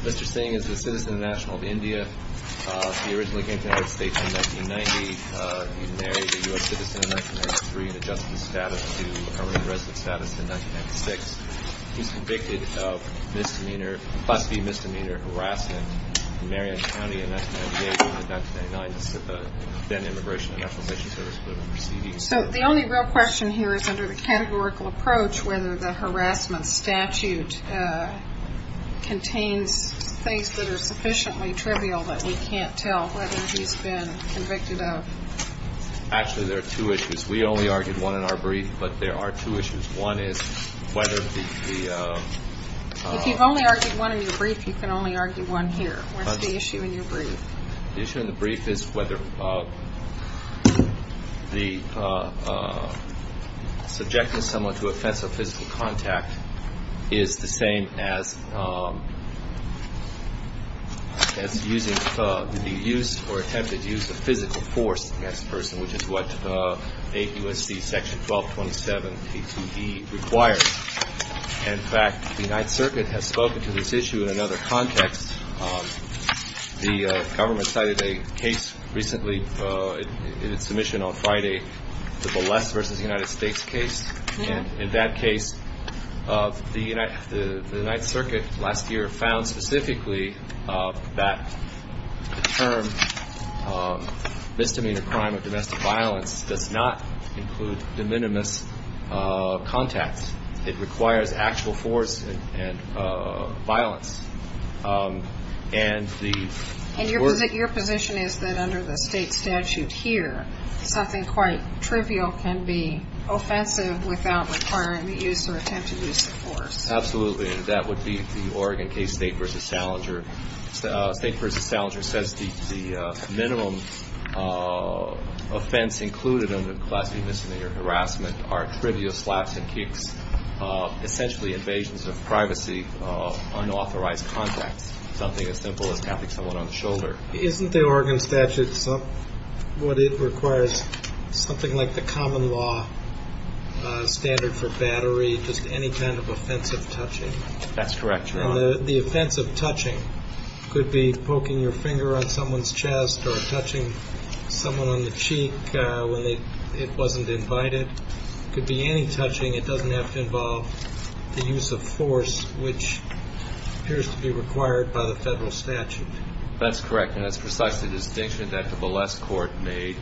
Mr. Singh is a citizen of the National of India. He originally came to the United States in 1990. He married a U.S. citizen in 1993 and adjusted his status to a resident status in 1996. He was convicted of misdemeanor, class B misdemeanor harassment in Marriott County in 1998. In 1999, the then Immigration and Naturalization Service put him on receiving. So the only real question here is under the categorical approach whether the harassment statute contains things that are sufficiently trivial that we can't tell whether he's been convicted of. Actually, there are two issues. We only argued one in our brief, but there are two issues. One is whether the – If you've only argued one in your brief, you can only argue one here. What's the issue in your brief? The issue in the brief is whether the subjecting someone to offensive physical contact is the same as using the use or attempted use of physical force against the person, which is what ABUSC Section 1227 P2E requires. In fact, the United Circuit has spoken to this issue in another context. The government cited a case recently in its submission on Friday, the Bolesz v. United States case. And in that case, the United – the United Circuit last year found specifically that the term misdemeanor crime of domestic violence does not include de minimis contacts. It requires actual force and violence. And the – And your position is that under the state statute here, something quite trivial can be offensive without requiring the use or attempted use of force. Absolutely. That would be the Oregon case, State v. Salinger. State v. Salinger says the minimum offense included under class B misdemeanor harassment are trivial slaps and kicks, essentially invasions of privacy, unauthorized contacts, something as simple as tapping someone on the shoulder. Isn't the Oregon statute what it requires, something like the common law standard for battery, just any kind of offensive touching? That's correct, Your Honor. And the offensive touching could be poking your finger on someone's chest or touching someone on the cheek when it wasn't invited. It could be any touching. It doesn't have to involve the use of force, which appears to be required by the federal statute. That's correct, and that's precisely the distinction that the Bolesz court made,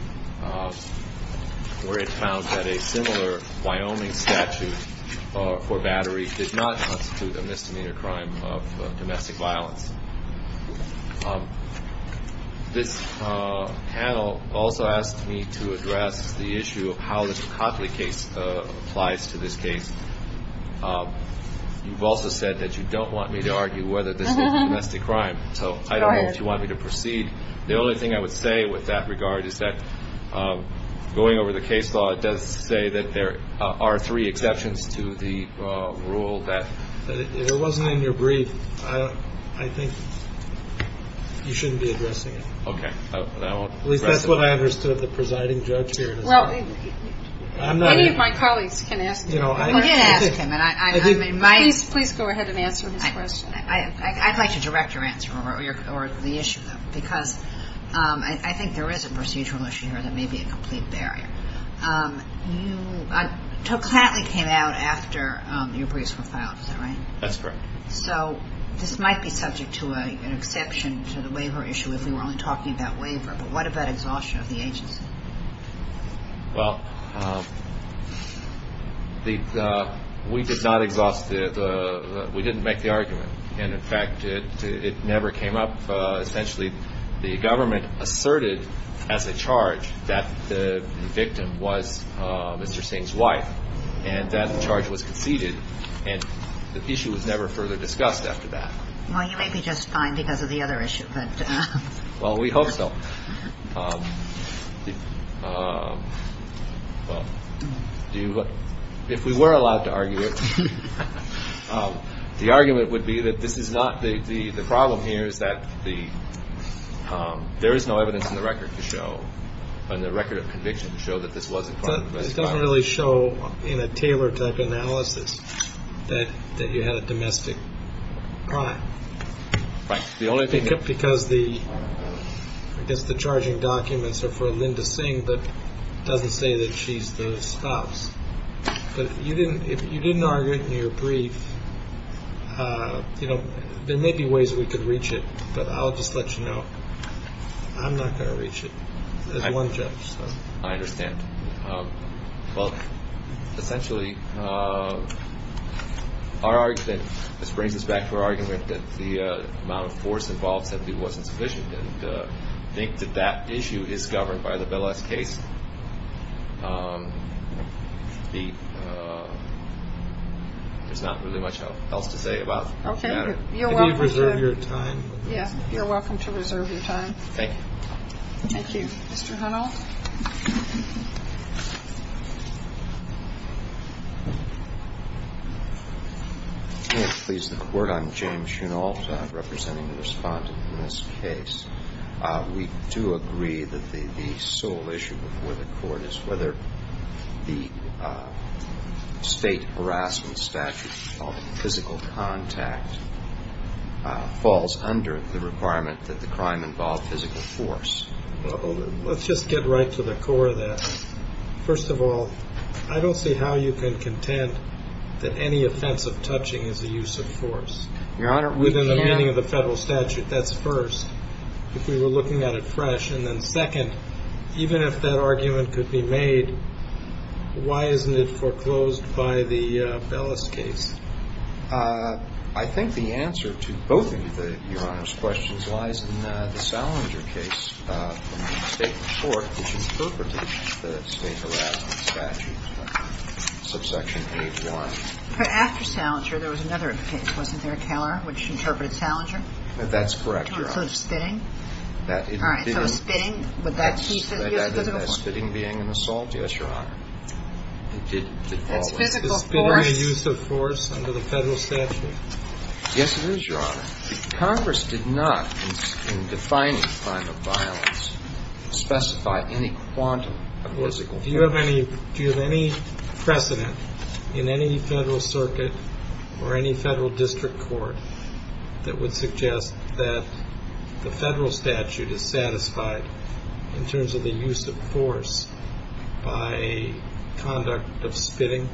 where it found that a similar Wyoming statute for battery did not constitute a misdemeanor crime of domestic violence. This panel also asked me to address the issue of how the Cotley case applies to this case. You've also said that you don't want me to argue whether this is a domestic crime. So I don't know if you want me to proceed. The only thing I would say with that regard is that going over the case law, it does say that there are three exceptions to the rule. If it wasn't in your brief, I think you shouldn't be addressing it. Okay. At least that's what I understood of the presiding judge here. Any of my colleagues can ask him. You can ask him. Please go ahead and answer his question. I'd like to direct your answer or the issue, because I think there is a procedural issue here that may be a complete barrier. You took Cotley came out after your briefs were filed, is that right? That's correct. So this might be subject to an exception to the waiver issue if we were only talking about waiver, but what about exhaustion of the agency? Well, we did not exhaust the we didn't make the argument. And, in fact, it never came up. Essentially, the government asserted as a charge that the victim was Mr. Singh's wife and that the charge was conceded. And the issue was never further discussed after that. Well, you may be just fine because of the other issue. Well, we hope so. Well, do you. If we were allowed to argue it, the argument would be that this is not the problem here is that the there is no evidence in the record to show and the record of conviction to show that this wasn't done. It doesn't really show in a Taylor type analysis that that you had a domestic crime. Because the I guess the charging documents are for Linda Singh, but doesn't say that she's the stops. But if you didn't if you didn't argue it in your brief, you know, there may be ways we could reach it. But I'll just let you know, I'm not going to reach it. I understand. Well, essentially, our argument brings us back to our argument that the amount of force involved simply wasn't sufficient. And I think that that issue is governed by the case. There's not really much else to say about. OK. You're welcome to reserve your time. Yeah, you're welcome to reserve your time. Thank you. Thank you. Mr. Hunter. Please, the court. I'm James, you know, representing the respondent in this case. We do agree that the sole issue with the court is whether the state harassment statute physical contact falls under the requirement that the crime involved physical force. Well, let's just get right to the core of that. First of all, I don't see how you can contend that any offense of touching is a use of force. Your Honor. Within the meaning of the federal statute. That's first. If we were looking at it fresh and then second, even if that argument could be made, why isn't it foreclosed by the Bellis case? I think the answer to both of the Your Honor's questions lies in the Salinger case from the state court, which interpreted the state harassment statute, subsection H1. But after Salinger, there was another case, wasn't there, Keller, which interpreted Salinger? That's correct, Your Honor. So spitting? All right. So spitting, would that keep the use of physical force? Spitting being an assault? Yes, Your Honor. That's physical force. Is spitting a use of force under the federal statute? Yes, it is, Your Honor. Congress did not, in defining crime of violence, specify any quantum of physical force. Do you have any precedent in any federal circuit or any federal district court that would suggest that the federal statute is satisfied in terms of the use of force by conduct of spitting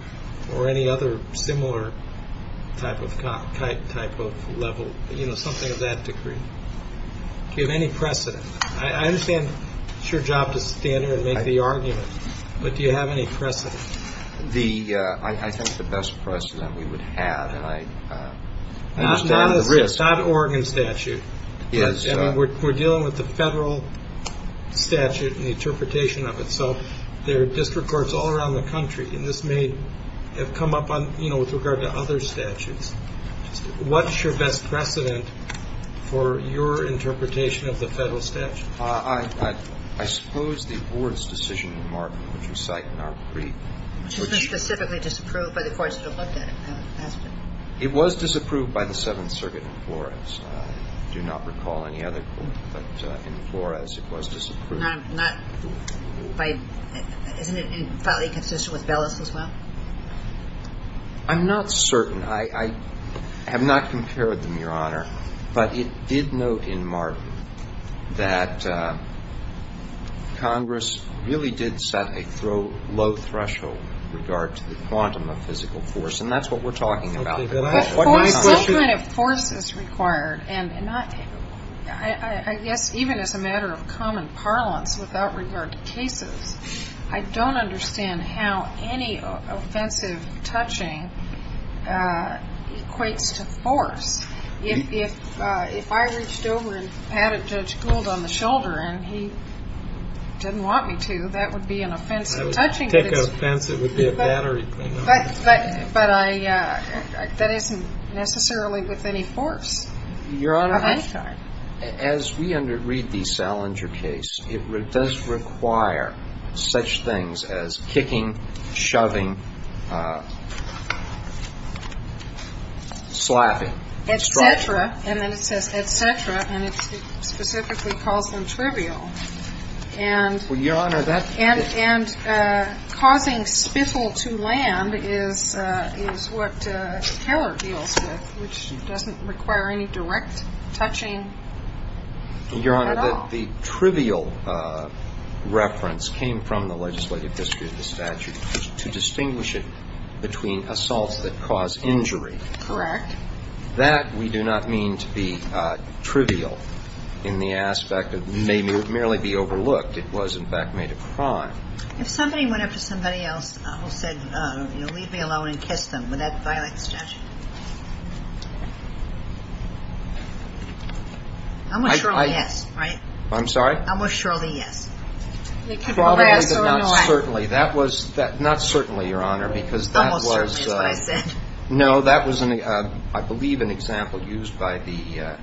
or any other similar type of level, you know, something of that degree? Do you have any precedent? I understand it's your job to stand here and make the argument, but do you have any precedent? I think the best precedent we would have, and I understand the risk. It's not an Oregon statute. Yes. We're dealing with the federal statute and the interpretation of it. So there are district courts all around the country, and this may have come up on, you know, with regard to other statutes. What's your best precedent for your interpretation of the federal statute? I suppose the board's decision in Martin, which you cite in our brief, which… Isn't it specifically disapproved by the courts that have looked at it? It was disapproved by the Seventh Circuit in Flores. I do not recall any other court, but in Flores, it was disapproved. Not by – isn't it entirely consistent with Bellis as well? I'm not certain. I have not compared them, Your Honor. But it did note in Martin that Congress really did set a low threshold with regard to the quantum of physical force, and that's what we're talking about. Okay. But I… The force – the settlement of force is required, and not – I guess even as a matter of common parlance, without regard to cases, I don't understand how any offensive touching equates to force. If I reached over and patted Judge Gould on the shoulder and he didn't want me to, that would be an offensive touching. I would take offense. It would be a battery. But I – that isn't necessarily with any force of any kind. As we underread the Salinger case, it does require such things as kicking, shoving, slapping. Et cetera. And then it says, et cetera, and it specifically calls them trivial. And… Well, Your Honor, that… And causing spittle to land is what terror deals with, which doesn't require any direct touching at all. Your Honor, the trivial reference came from the legislative history of the statute to distinguish it between assaults that cause injury. Correct. And that we do not mean to be trivial in the aspect of may merely be overlooked. It was, in fact, made a crime. If somebody went up to somebody else who said, you know, leave me alone and kiss them, would that violate the statute? Almost surely, yes, right? I'm sorry? Almost surely, yes. Probably, but not certainly. That was – not certainly, Your Honor, because that was… Almost certainly is what I said. No, that was, I believe, an example used by the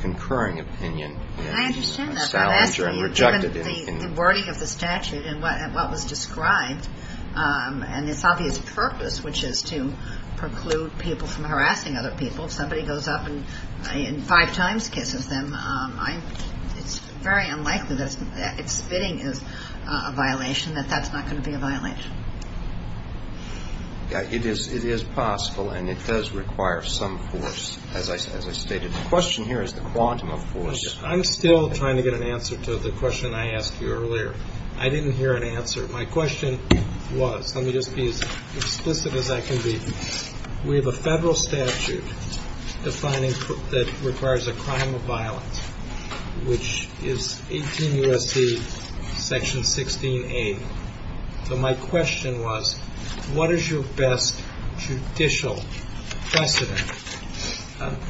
concurring opinion. I understand that, but I'm asking you given the wording of the statute and what was described and its obvious purpose, which is to preclude people from harassing other people, if somebody goes up and five times kisses them, it's very unlikely that spitting is a violation, that that's not going to be a violation. It is possible, and it does require some force, as I stated. The question here is the quantum of force. I'm still trying to get an answer to the question I asked you earlier. I didn't hear an answer. My question was – let me just be as explicit as I can be. We have a federal statute that requires a crime of violence, which is 18 U.S.C. section 16A. So my question was, what is your best judicial precedent?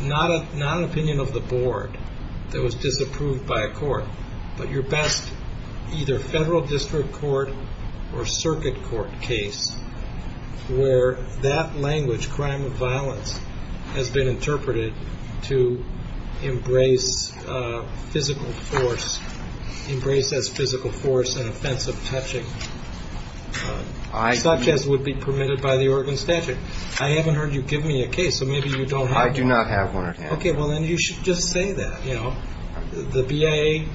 Not an opinion of the board that was disapproved by a court, but your best either federal district court or circuit court case where that language, crime of violence, has been interpreted to embrace physical force, embrace as physical force an offensive touching such as would be permitted by the Oregon statute. I haven't heard you give me a case, so maybe you don't have one. I do not have one at hand. Okay, well, then you should just say that. The BIA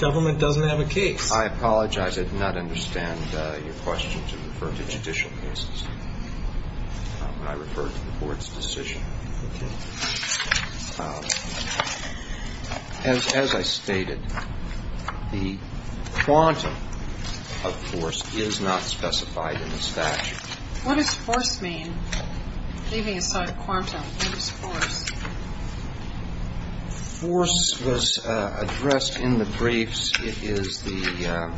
government doesn't have a case. I apologize. I did not understand your question to refer to judicial cases. I referred to the board's decision. As I stated, the quantum of force is not specified in the statute. What does force mean? Leaving aside quantum, what is force? Force was addressed in the briefs. It is the,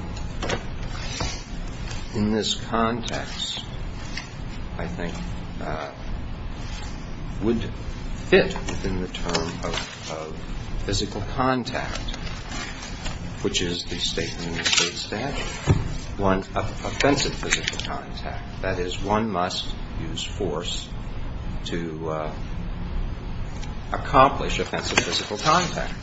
in this context, I think, would fit within the term of physical contact, which is the state and interstate statute of offensive physical contact. That is, one must use force to accomplish offensive physical contact.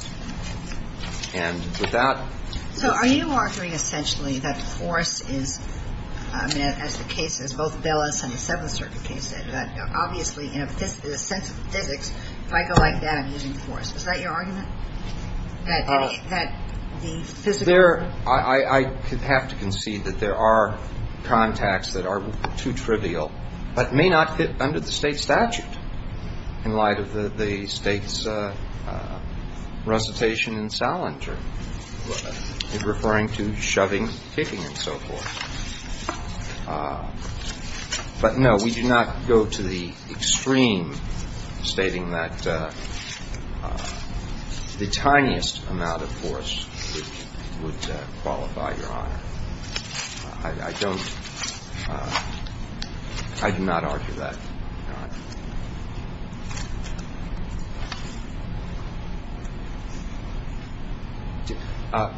And with that ---- So are you arguing essentially that force is, I mean, as the case is, both Bellis and the Seventh Circuit case said, that obviously in a sense of physics, if I go like that, I'm using force. Is that your argument, that the physical ---- There, I have to concede that there are contacts that are too trivial but may not fit under the state statute in light of the state's rules. But you may argue that there are contacts that are too trivial but may not fit under the state statute in light of the state's rules. As I said, I'm arguing that there are contacts that are too trivial but may not fit under the state statute in light of the state's rules.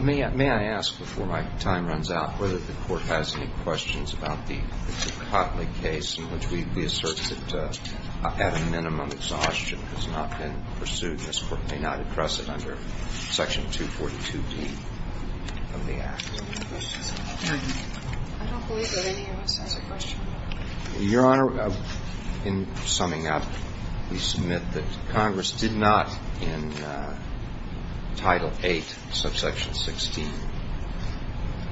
May I ask, before my time runs out, whether the Court has any questions about the Cotley case in which we assert that, at a minimum, exhaustion has not been pursued. This Court may not address it under Section 242D of the Act. I don't believe that any of us has a question. Your Honor, in summing up, we submit that Congress did not, in Title VIII, subsection 16,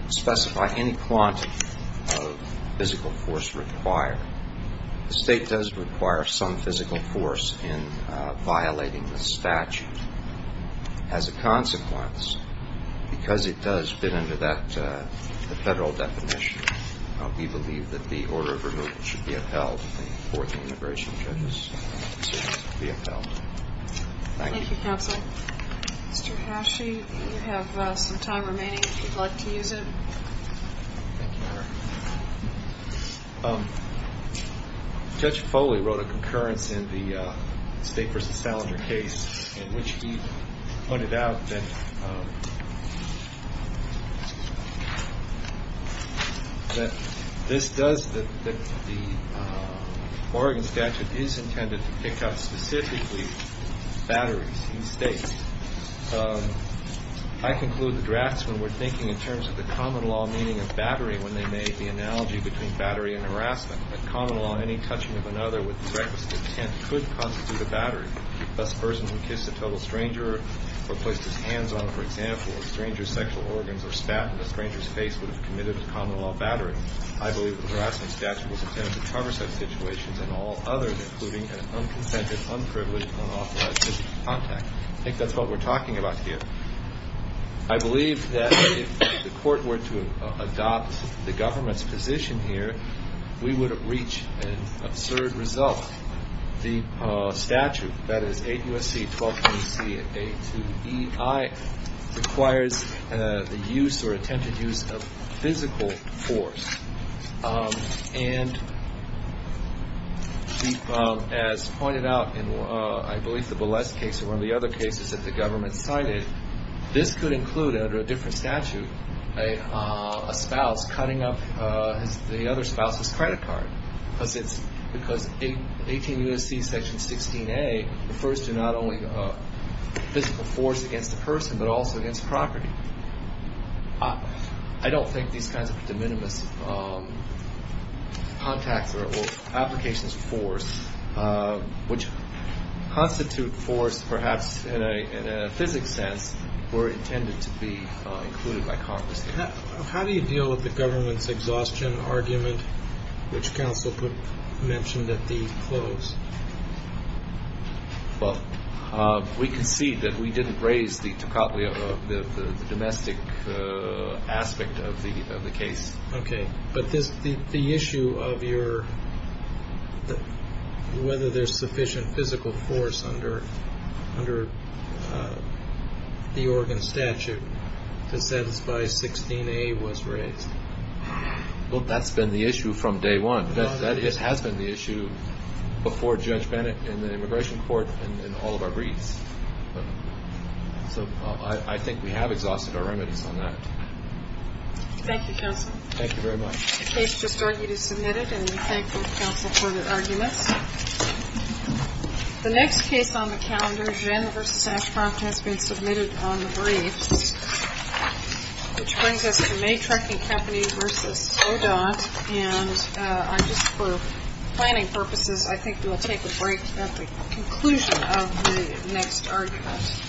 specify any quantity of physical force required. The State does require some physical force in violating the statute. As a consequence, because it does fit under that federal definition, we believe that the order of removal should be upheld, and the fourth and integration treasuries should be upheld. Thank you. Thank you, Counsel. Mr. Hashee, you have some time remaining if you'd like to use it. Thank you, Your Honor. Judge Foley wrote a concurrence in the State v. Salinger case in which he pointed out that this does, that the Oregon statute is intended to pick up specifically batteries in States. I conclude the draftsmen were thinking in terms of the common law meaning of battery when they made the analogy between battery and harassment, that common law, any touching of another with the rightmost intent, could constitute a battery. Thus, a person who kissed a total stranger or placed his hands on, for example, a stranger's sexual organs or spat in a stranger's face would have committed a common law battery. I believe the harassment statute was intended to cover such situations and all others, including an unconsented, unprivileged, unauthorized physical contact. I think that's what we're talking about here. I believe that if the Court were to adopt the government's position here, we would have reached an absurd result. The statute, that is, 8 U.S.C., 12 U.S.C., and 82 E.I., requires the use or attempted use of physical force. And as pointed out in, I believe, the Bolesk case or one of the other cases that the government cited, this could include under a different statute a spouse cutting up the other spouse's credit card because 18 U.S.C. section 16A refers to not only physical force against the person, but also against property. I don't think these kinds of de minimis contacts or applications of force, which constitute force perhaps in a physics sense, were intended to be included by Congress. How do you deal with the government's exhaustion argument, which counsel mentioned at the close? Well, we concede that we didn't raise the domestic aspect of the case. Okay, but the issue of whether there's sufficient physical force under the Oregon statute to satisfy 16A was raised. Well, that's been the issue from day one. That has been the issue before Judge Bennett and the immigration court and all of our briefs. So I think we have exhausted our remedies on that. Thank you, counsel. Thank you very much. The case just argued is submitted, and we thank both counsel for the arguments. The next case on the calendar, Jenner v. Ashcroft, has been submitted on the briefs, which brings us to Maytrek and Kapanee v. O'Donnell. And just for planning purposes, I think we will take a break at the conclusion of the next argument. Thank you.